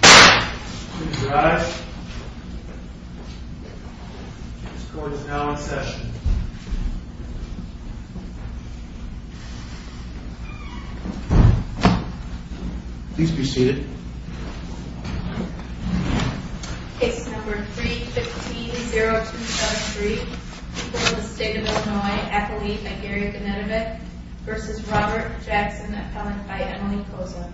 Please rise. This court is now in session. Please be seated. Case number 315-0273, people of the state of Illinois, Ethelene Nigeria-Gonetovic v. Robert Jackson, appellant by Emily Koza.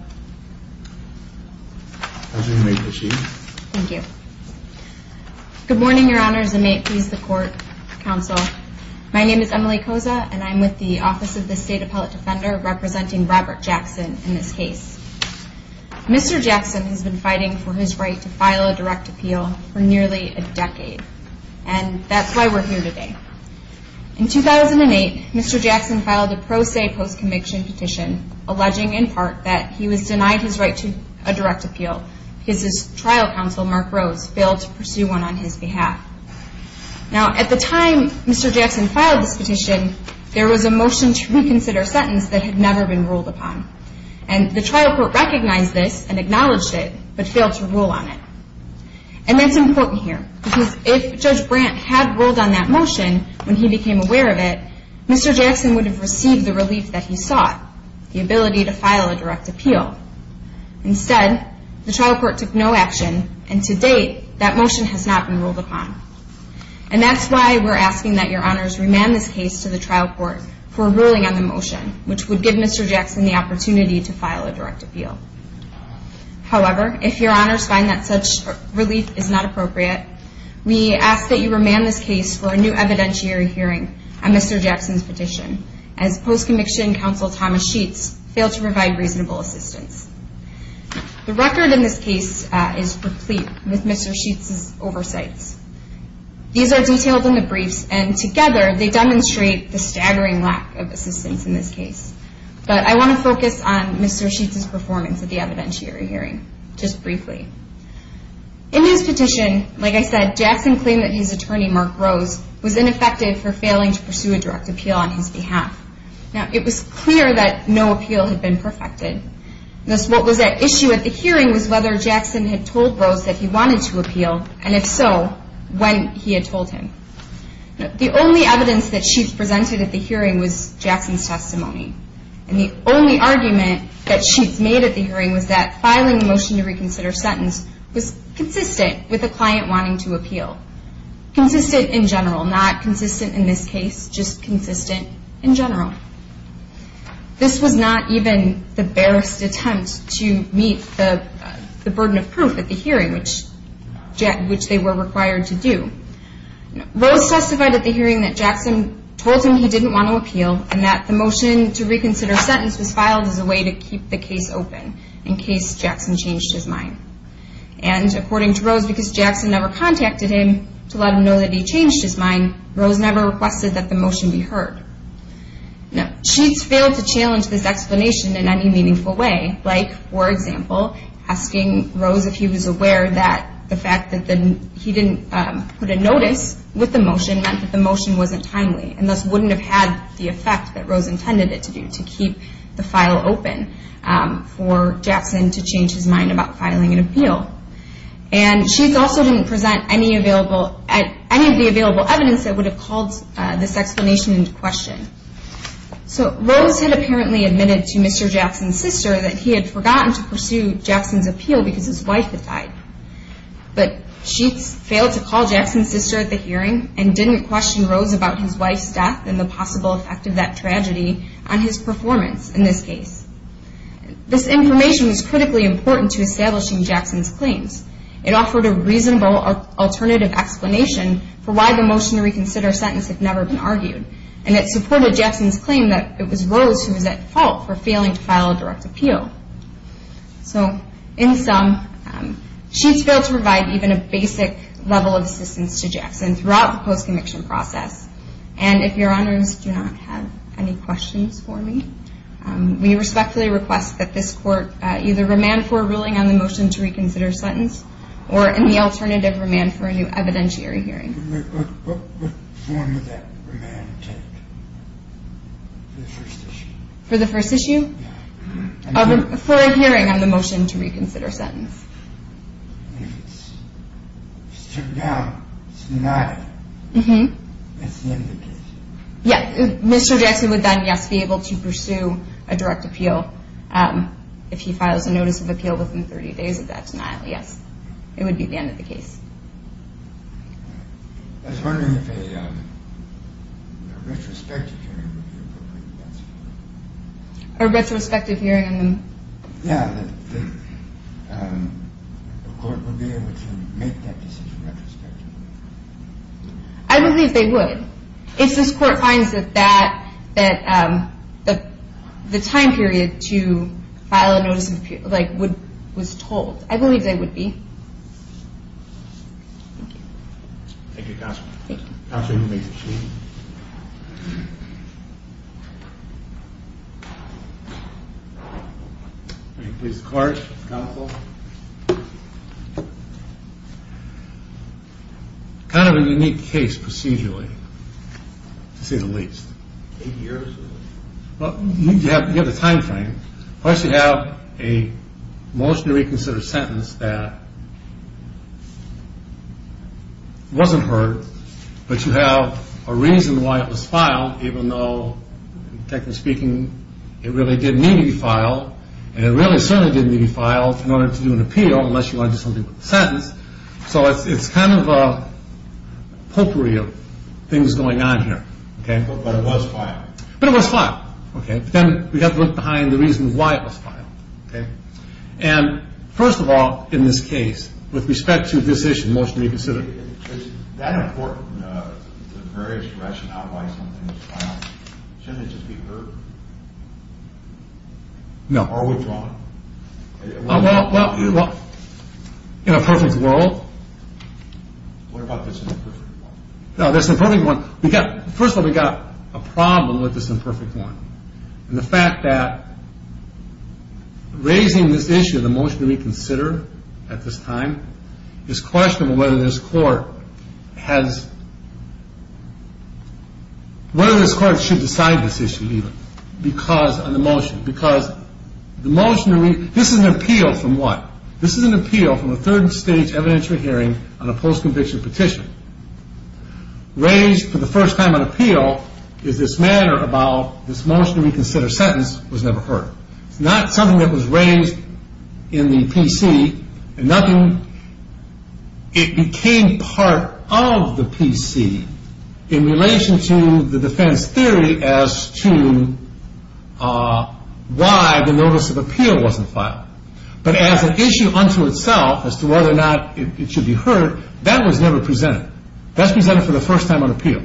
Good morning, your honors, and may it please the court, counsel. My name is Emily Koza, and I'm with the Office of the State Appellate Defender, representing Robert Jackson in this case. Mr. Jackson has been fighting for his right to file a direct appeal for nearly a decade, and that's why we're here today. In 2008, Mr. Jackson filed a pro se post-conviction petition, alleging in part that he was denied his right to a direct appeal because his trial counsel, Mark Rose, failed to pursue one on his behalf. Now, at the time Mr. Jackson filed this petition, there was a motion to reconsider a sentence that had never been ruled upon, and the trial court recognized this and acknowledged it but failed to rule on it. And that's important here, because if Judge Brandt had ruled on that motion when he became aware of it, Mr. Jackson would have received the relief that he sought, the ability to file a direct appeal. Instead, the trial court took no action, and to date, that motion has not been ruled upon. And that's why we're asking that your honors remand this case to the trial court for ruling on the motion, which would give Mr. Jackson the opportunity to file a direct appeal. However, if your honors find that such relief is not appropriate, we ask that you remand this case for a new evidentiary hearing on Mr. Jackson's petition, as post-conviction counsel Thomas Sheets failed to provide reasonable assistance. The record in this case is replete with Mr. Sheets's oversights. These are detailed in the briefs, and together, they demonstrate the staggering lack of assistance in this case. But I want to focus on Mr. Sheets's performance at the evidentiary hearing, just briefly. In his petition, like I said, Jackson claimed that his attorney, Mark Rose, was ineffective for failing to pursue a direct appeal on his behalf. Now, it was clear that no appeal had been perfected. Thus, what was at issue at the hearing was whether Jackson had told Rose that he wanted to appeal, and if so, when he had told him. The only evidence that Sheets presented at the hearing was Jackson's testimony, and the only argument that Sheets made at the hearing was that filing a motion to reconsider sentence was consistent with the client wanting to appeal. Consistent in general, not consistent in this case, just consistent in general. This was not even the barest attempt to meet the burden of proof at the hearing, which they were required to do. Rose testified at the hearing that Jackson told him he didn't want to appeal, and that the motion to reconsider sentence was filed as a way to keep the case open, in case Jackson changed his mind. And according to Rose, because Jackson never contacted him to let him know that he changed his mind, Rose never requested that the motion be heard. Now, Sheets failed to challenge this explanation in any meaningful way, like, for example, asking Rose if he was aware that the fact that he didn't put a notice with the motion meant that the motion wasn't timely, and thus wouldn't have had the effect that Rose intended it to do, to keep the file open for Jackson to change his mind about filing an appeal. And Sheets also didn't present any of the available evidence that would have called this explanation into question. So Rose had apparently admitted to Mr. Jackson's sister that he had forgotten to pursue Jackson's appeal because his wife had died. But Sheets failed to call Jackson's sister at the hearing, and didn't question Rose about his wife's death and the possible effect of that tragedy on his performance in this case. This information was critically important to establishing Jackson's claims. It offered a reasonable alternative explanation for why the motion to reconsider sentence had never been argued, and it supported Jackson's claim that it was Rose who was at fault for failing to file a direct appeal. So, in sum, Sheets failed to provide even a basic level of assistance to Jackson throughout the post-conviction process. And if your honors do not have any questions for me, we respectfully request that this court either remand for a ruling on the motion to reconsider sentence, or in the alternative, remand for a new evidentiary hearing. What form would that remand take for the first issue? For the first issue? Yeah. For a hearing on the motion to reconsider sentence. And if it's turned down, it's a denial, that's the end of the case? Yeah. Mr. Jackson would then, yes, be able to pursue a direct appeal if he files a notice of appeal within 30 days of that denial, yes. It would be the end of the case. I was wondering if a retrospective hearing would be appropriate. A retrospective hearing? Yeah, that the court would be able to make that decision retrospectively. I believe they would. If this court finds that the time period to file a notice of appeal was told, I believe they would be. Thank you. Thank you, Counselor. Thank you. Counselor, you may proceed. Please, clerk, counsel. Kind of a unique case procedurally, to say the least. Eight years? You have the time frame. First, you have a motion to reconsider sentence that wasn't heard, but you have a reason why it was filed, even though, technically speaking, it really didn't need to be filed. And it really certainly didn't need to be filed in order to do an appeal, unless you wanted to do something with the sentence. So it's kind of a potpourri of things going on here. But it was filed. But it was filed. But then we have to look behind the reasons why it was filed. And, first of all, in this case, with respect to this issue, motion to reconsider. Is that important, the various rationale why something was filed? Shouldn't it just be heard? No. Or withdrawn? Well, in a perfect world. What about this imperfect world? No, this imperfect world. First of all, we've got a problem with this imperfect world. And the fact that raising this issue, the motion to reconsider at this time, is questionable whether this court has ‑‑ whether this court should decide this issue, even, because of the motion. Because the motion to ‑‑ this is an appeal from what? This is an appeal from a third stage evidentiary hearing on a post‑conviction petition. Raised for the first time on appeal is this matter about this motion to reconsider sentence was never heard. It's not something that was raised in the PC. It became part of the PC in relation to the defense theory as to why the notice of appeal wasn't filed. But as an issue unto itself as to whether or not it should be heard, that was never presented. That's presented for the first time on appeal.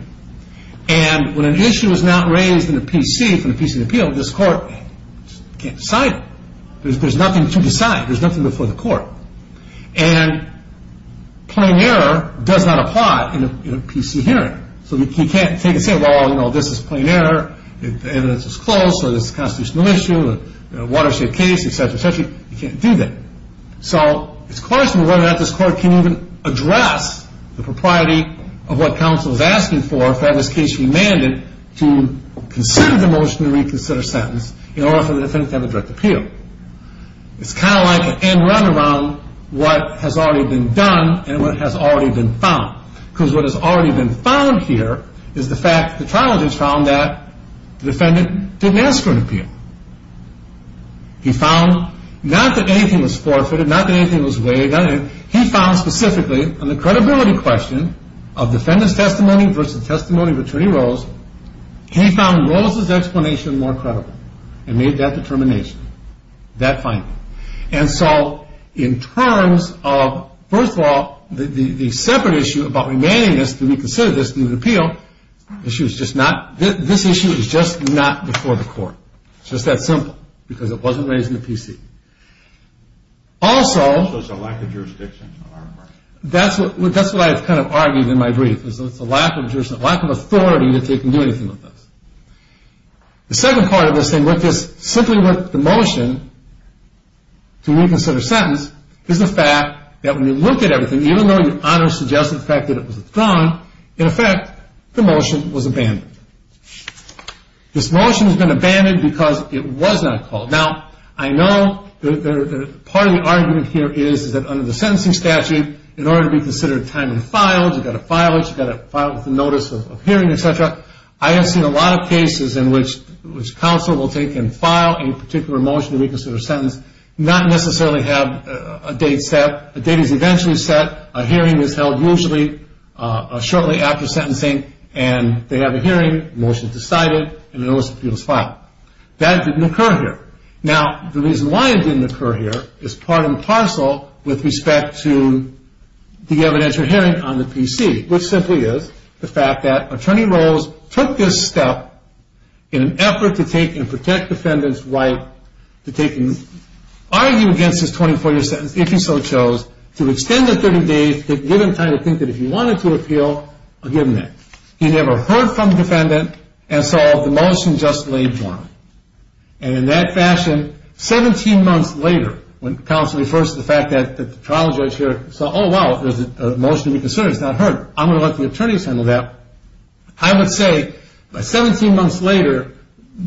And when an issue is not raised in the PC, from the PC appeal, this court can't decide it. There's nothing to decide. There's nothing before the court. And plain error does not apply in a PC hearing. So you can't take and say, well, you know, this is plain error. The evidence is closed. So this is a constitutional issue, a watershed case, et cetera, et cetera. You can't do that. So it's a question of whether or not this court can even address the propriety of what counsel is asking for for having this case remanded to consider the motion to reconsider sentence in order for the defendant to have a direct appeal. It's kind of like an end run around what has already been done and what has already been found. Because what has already been found here is the fact that the trial judge found that the defendant didn't ask for an appeal. He found not that anything was forfeited, not that anything was waived. He found specifically on the credibility question of defendant's testimony versus testimony of attorney Rose, he found Rose's explanation more credible and made that determination, that finding. And so in terms of, first of all, the separate issue about remanding this to reconsider this to appeal, this issue is just not before the court. It's just that simple because it wasn't raised in the PC. Also, that's what I have kind of argued in my brief. It's a lack of authority that they can do anything with this. The second part of this thing with this, simply with the motion to reconsider sentence, is the fact that when you look at everything, even though your honor suggested the fact that it was withdrawn, in effect, the motion was abandoned. This motion has been abandoned because it was not called. Now, I know that part of the argument here is that under the sentencing statute, in order to be considered time and file, you've got to file it, you've got to file it with the notice of hearing, etc. I have seen a lot of cases in which counsel will take and file a particular motion to reconsider a sentence, not necessarily have a date set. A date is eventually set, a hearing is held usually shortly after sentencing, and they have a hearing, motion decided, and a notice of appeal is filed. That didn't occur here. Now, the reason why it didn't occur here is part and parcel with respect to the evidentiary hearing on the PC, which simply is the fact that Attorney Rose took this step in an effort to take and protect defendant's right to take and argue against his 24-year sentence, if he so chose, to extend the 30 days to give him time to think that if he wanted to appeal, give him that. He never heard from the defendant and saw the motion just laid down. And in that fashion, 17 months later, when counsel refers to the fact that the trial judge here saw, oh, wow, there's a motion to reconsider, it's not heard. I'm going to let the attorneys handle that. I would say 17 months later,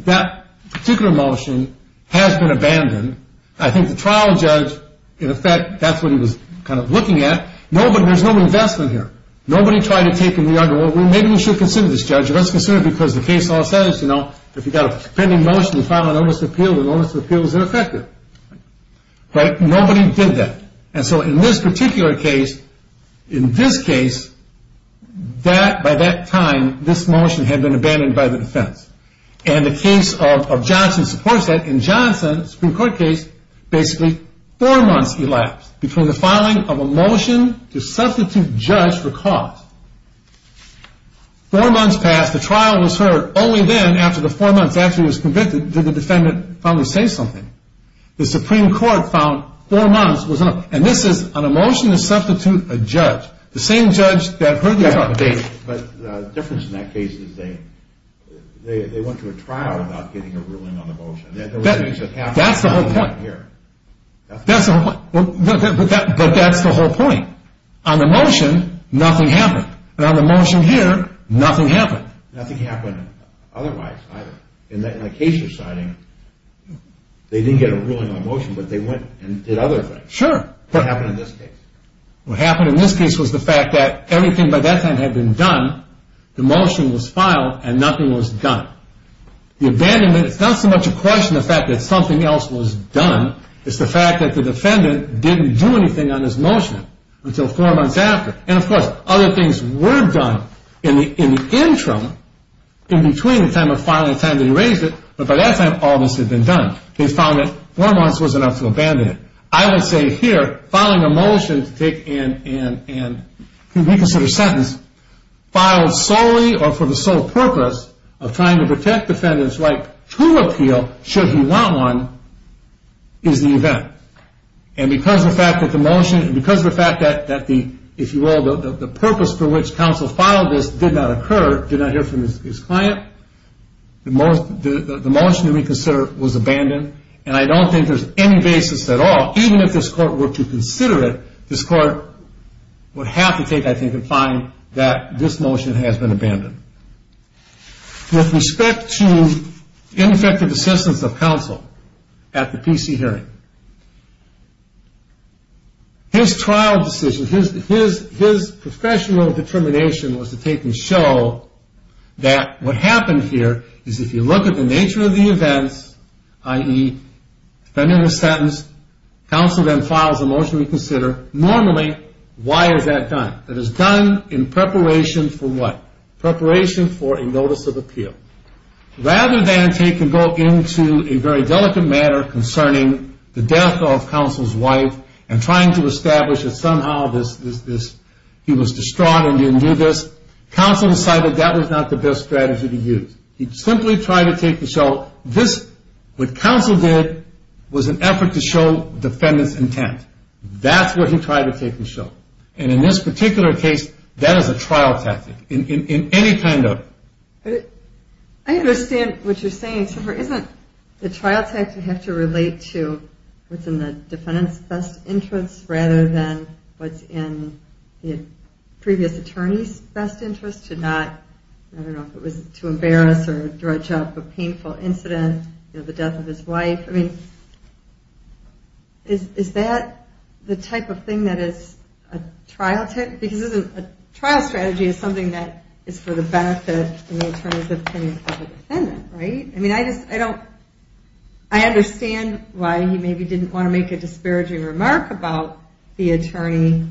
that particular motion has been abandoned. I think the trial judge, in effect, that's what he was kind of looking at. There's no investment here. Nobody tried to take and re-argue, well, maybe we should consider this, Judge. Let's consider it because the case law says, you know, if you've got a pending motion to file a notice of appeal, the notice of appeal is ineffective. Right? Nobody did that. And so in this particular case, in this case, by that time, this motion had been abandoned by the defense. And the case of Johnson supports that. In Johnson's Supreme Court case, basically four months elapsed between the filing of a motion to substitute judge for cause. Four months passed. The trial was heard. Only then, after the four months after he was convicted, did the defendant finally say something. The Supreme Court found four months was enough. And this is on a motion to substitute a judge. The same judge that heard the update. But the difference in that case is they went to a trial without getting a ruling on the motion. That's the whole point. That's the whole point. But that's the whole point. On the motion, nothing happened. And on the motion here, nothing happened. Nothing happened otherwise either. In that case you're citing, they didn't get a ruling on motion, but they went and did other things. Sure. What happened in this case? What happened in this case was the fact that everything by that time had been done. The motion was filed, and nothing was done. The abandonment, it's not so much a question of the fact that something else was done. It's the fact that the defendant didn't do anything on his motion until four months after. And, of course, other things were done in the interim, in between the time of filing and the time that he raised it. But by that time, all this had been done. They found that four months was enough to abandon it. I would say here, filing a motion to take and reconsider a sentence, filed solely or for the sole purpose of trying to protect the defendant's right to appeal should he want one, is the event. And because of the fact that the motion, and because of the fact that the, if you will, the purpose for which counsel filed this did not occur, did not hear from his client, the motion to reconsider was abandoned. And I don't think there's any basis at all, even if this court were to consider it, this court would have to take, I think, and find that this motion has been abandoned. With respect to ineffective assistance of counsel at the PC hearing, his trial decision, his professional determination was to take and show that what happened here is if you look at the nature of the events, i.e., defendant was sentenced, counsel then files a motion to reconsider, normally, why is that done? That is done in preparation for what? Preparation for a notice of appeal. Rather than take and go into a very delicate matter concerning the death of counsel's wife and trying to establish that somehow this, he was distraught and didn't do this, counsel decided that was not the best strategy to use. He simply tried to take and show this, what counsel did was an effort to show defendant's intent. That's what he tried to take and show. And in this particular case, that is a trial tactic. In any kind of... I understand what you're saying. Isn't the trial tactic have to relate to what's in the defendant's best interest rather than what's in the previous attorney's best interest to not, I don't know, if it was to embarrass or dredge up a painful incident, the death of his wife. Is that the type of thing that is a trial tactic? Because a trial strategy is something that is for the benefit in the attorney's opinion of the defendant. I understand why he maybe didn't want to make a disparaging remark about the attorney,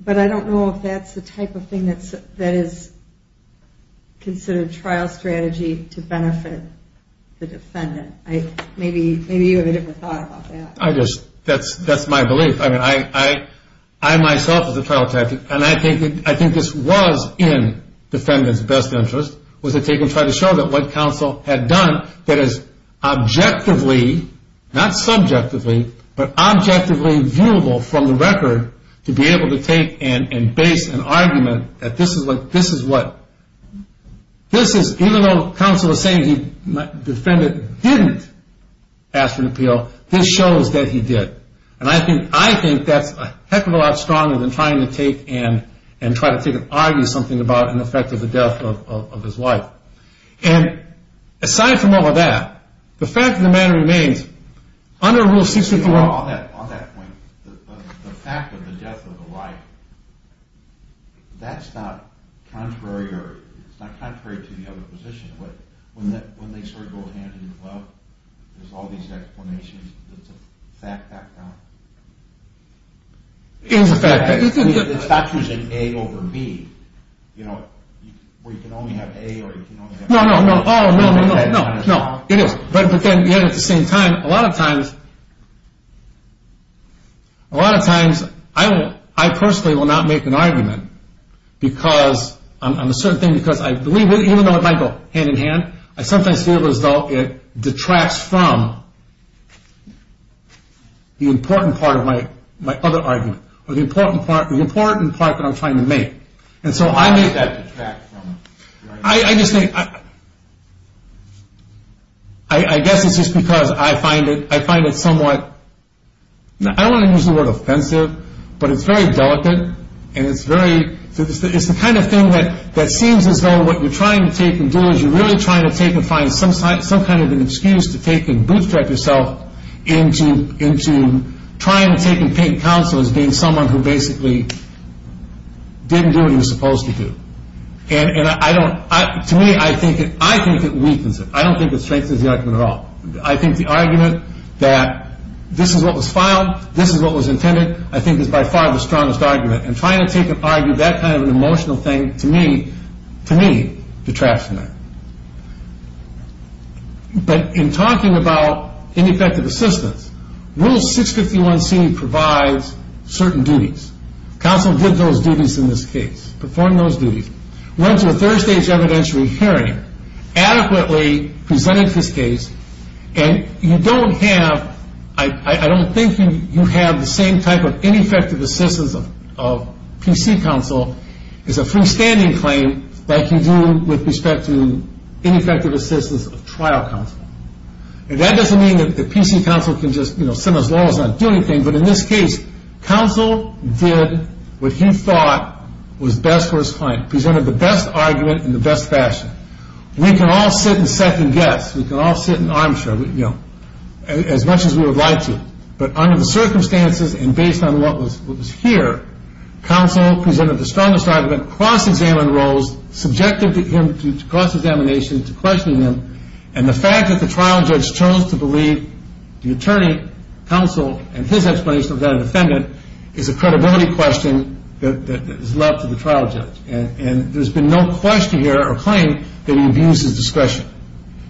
but I don't know if that's the type of thing that is considered trial strategy to benefit the defendant. Maybe you have a different thought about that. That's my belief. I, myself, as a trial tactic, and I think this was in defendant's best interest, was to take and try to show that what counsel had done that is objectively, not subjectively, but objectively viewable from the record to be able to take and base an argument that this is what... he didn't ask for an appeal, this shows that he did. And I think that's a heck of a lot stronger than trying to take and try to take an argument, something about an effect of the death of his wife. And aside from all of that, the fact of the matter remains, under Rule 651... On that point, the fact of the death of the wife, that's not contrary to the other position. When they sort of go hand in glove, there's all these explanations, it's a fact back down. It is a fact back down. It's not choosing A over B, you know, where you can only have A or you can only have B. No, no, no, oh, no, no, no, no, it is. But then, yet, at the same time, a lot of times, a lot of times, I personally will not make an argument because I'm a certain thing because I believe, even though it might go hand in hand, I sometimes feel as though it detracts from the important part of my other argument, or the important part that I'm trying to make. And so I make that... I just think... I guess it's just because I find it somewhat... I don't want to use the word offensive, but it's very delicate, and it's very... It's the kind of thing that seems as though what you're trying to take and do is you're really trying to take and find some kind of an excuse to take and bootstrap yourself into trying to take and take counsel as being someone who basically didn't do what he was supposed to do. And I don't... To me, I think it weakens it. I don't think it strengthens the argument at all. I think the argument that this is what was filed, this is what was intended, I think is by far the strongest argument. And trying to take and argue that kind of an emotional thing, to me, detracts from that. But in talking about ineffective assistance, Rule 651c provides certain duties. Counsel did those duties in this case, performed those duties. Went to a third-stage evidentiary hearing, adequately presented his case, and you don't have... I don't think you have the same type of ineffective assistance of PC counsel as a freestanding claim like you do with respect to ineffective assistance of trial counsel. And that doesn't mean that PC counsel can just sit as long as not doing anything, but in this case, counsel did what he thought was best for his client, presented the best argument in the best fashion. And we can all sit and second-guess. We can all sit and armchair, you know, as much as we would like to. But under the circumstances and based on what was here, counsel presented the strongest argument, cross-examined Rose, subjected him to cross-examination, to questioning him, and the fact that the trial judge chose to believe the attorney counsel and his explanation of that defendant is a credibility question that is left to the trial judge. And there's been no question here or claim that he abused his discretion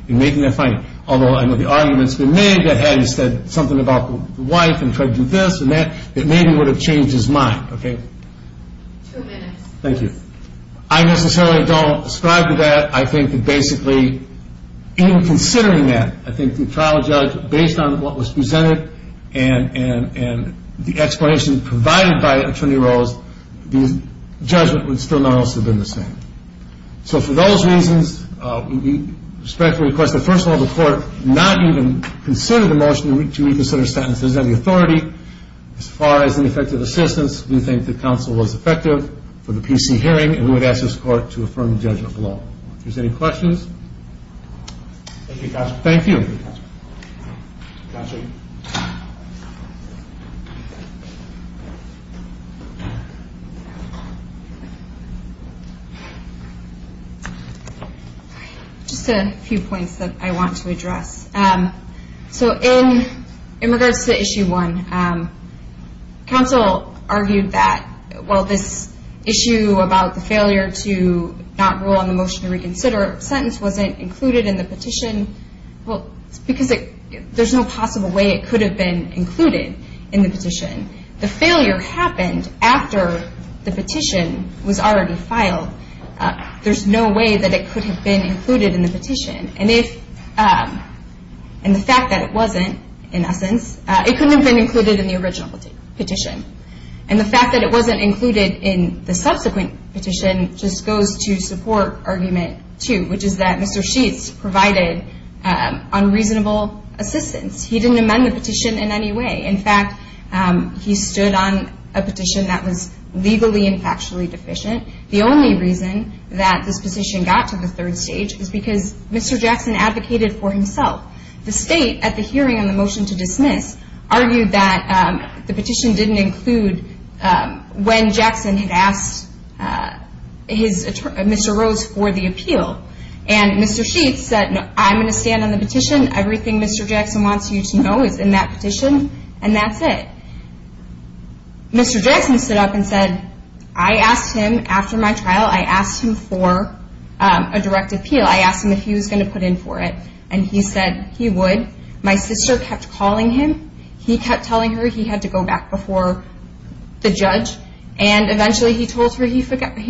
in making that finding. Although I know the argument's been made that had he said something about the wife and tried to do this and that, it maybe would have changed his mind, okay? Two minutes. Thank you. I necessarily don't ascribe to that. I think that basically in considering that, I think the trial judge, based on what was presented and the explanation provided by Attorney Rose, the judgment would still not also have been the same. So for those reasons, we respectfully request that, first of all, the court not even consider the motion to reconsider sentences. That is the authority. As far as ineffective assistance, we think that counsel was effective for the PC hearing, and we would ask this court to affirm the judgment of the law. If there's any questions. Thank you, counsel. Thank you. Counsel. Just a few points that I want to address. So in regards to issue one, counsel argued that, well, this issue about the failure to not rule on the motion to reconsider a sentence wasn't included in the petition because there's no possible way it could have been included in the petition. The failure happened after the petition was already filed. There's no way that it could have been included in the petition. And the fact that it wasn't, in essence, it couldn't have been included in the original petition. And the fact that it wasn't included in the subsequent petition just goes to support argument two, which is that Mr. Sheets provided unreasonable assistance. He didn't amend the petition in any way. In fact, he stood on a petition that was legally and factually deficient. The only reason that this petition got to the third stage is because Mr. Jackson advocated for himself. The state, at the hearing on the motion to dismiss, argued that the petition didn't include when Jackson had asked Mr. Rose for the appeal. And Mr. Sheets said, no, I'm going to stand on the petition. Everything Mr. Jackson wants you to know is in that petition. And that's it. Mr. Jackson stood up and said, I asked him after my trial, I asked him for a direct appeal. I asked him if he was going to put in for it. And he said he would. My sister kept calling him. He kept telling her he had to go back before the judge. And eventually he told her he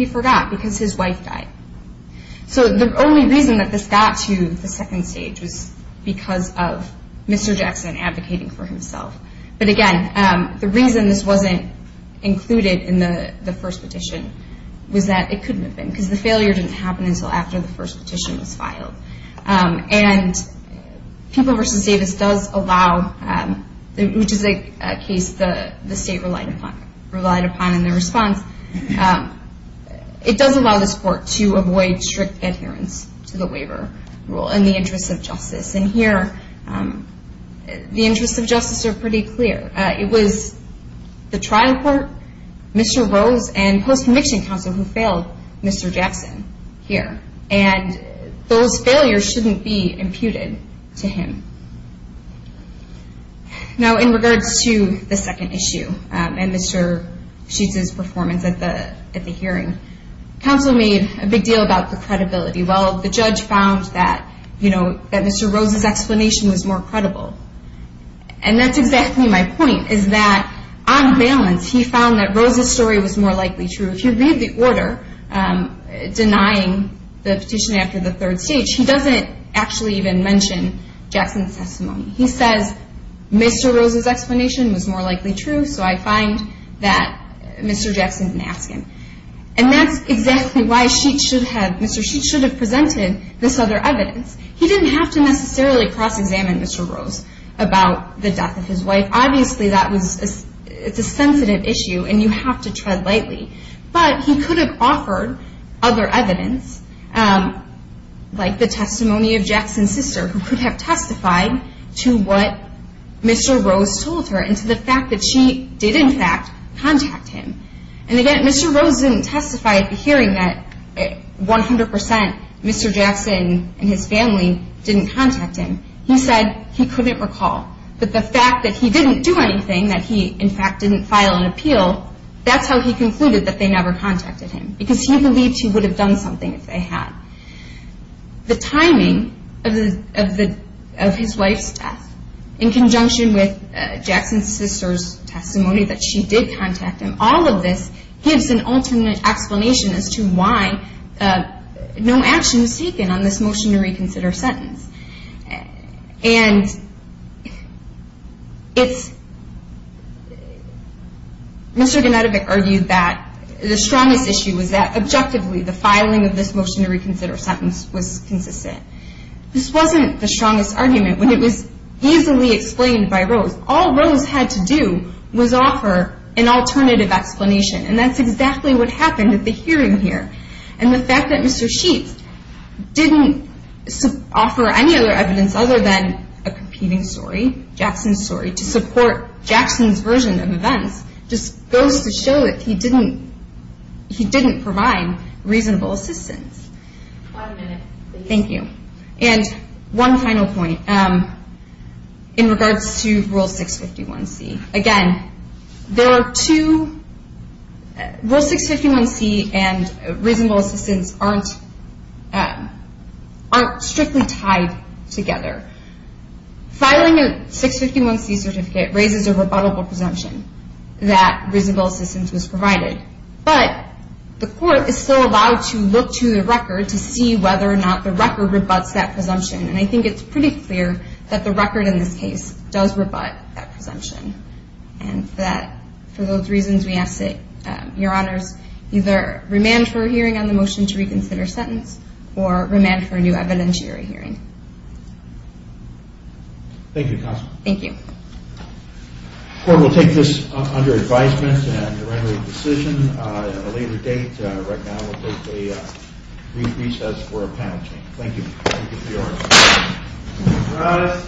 forgot because his wife died. So the only reason that this got to the second stage was because of Mr. Jackson advocating for himself. But again, the reason this wasn't included in the first petition was that it couldn't have been because the failure didn't happen until after the first petition was filed. And People v. Davis does allow, which is a case the state relied upon in their response, it does allow this court to avoid strict adherence to the waiver rule in the interest of justice. And here the interests of justice are pretty clear. It was the trial court, Mr. Rose, and post-conviction counsel who failed Mr. Jackson here. And those failures shouldn't be imputed to him. Now, in regards to the second issue and Mr. Sheetz's performance at the hearing, counsel made a big deal about the credibility. Well, the judge found that Mr. Rose's explanation was more credible. And that's exactly my point, is that on balance he found that Rose's story was more likely true. If you read the order denying the petition after the third stage, he doesn't actually even mention Jackson's testimony. He says, Mr. Rose's explanation was more likely true, so I find that Mr. Jackson didn't ask him. And that's exactly why Mr. Sheetz should have presented this other evidence. He didn't have to necessarily cross-examine Mr. Rose about the death of his wife. Obviously, it's a sensitive issue, and you have to tread lightly. But he could have offered other evidence, like the testimony of Jackson's sister, who could have testified to what Mr. Rose told her and to the fact that she did, in fact, contact him. And again, Mr. Rose didn't testify at the hearing that 100% Mr. Jackson and his family didn't contact him. He said he couldn't recall. But the fact that he didn't do anything, that he, in fact, didn't file an appeal, that's how he concluded that they never contacted him, because he believed he would have done something if they had. The timing of his wife's death, in conjunction with Jackson's sister's testimony that she did contact him, all of this gives an alternate explanation as to why no action was taken on this motion to reconsider sentence. And it's – Mr. Genetovic argued that the strongest issue was that, objectively, the filing of this motion to reconsider sentence was consistent. This wasn't the strongest argument, but it was easily explained by Rose. All Rose had to do was offer an alternative explanation, and that's exactly what happened at the hearing here. And the fact that Mr. Sheets didn't offer any other evidence other than a competing story, Jackson's story, to support Jackson's version of events just goes to show that he didn't provide reasonable assistance. One minute, please. Thank you. And one final point in regards to Rule 651C. Again, there are two – Rule 651C and reasonable assistance aren't strictly tied together. Filing a 651C certificate raises a rebuttable presumption that reasonable assistance was provided, but the court is still allowed to look to the record to see whether or not the record rebuts that presumption. And I think it's pretty clear that the record in this case does rebut that presumption, and that for those reasons, we ask that Your Honors either remand for a hearing on the motion to reconsider sentence or remand for a new evidentiary hearing. Thank you, Counsel. Thank you. The court will take this under advisement and to render a decision at a later date. Right now, we'll take a brief recess for a panel change. Thank you. Thank you, Your Honors.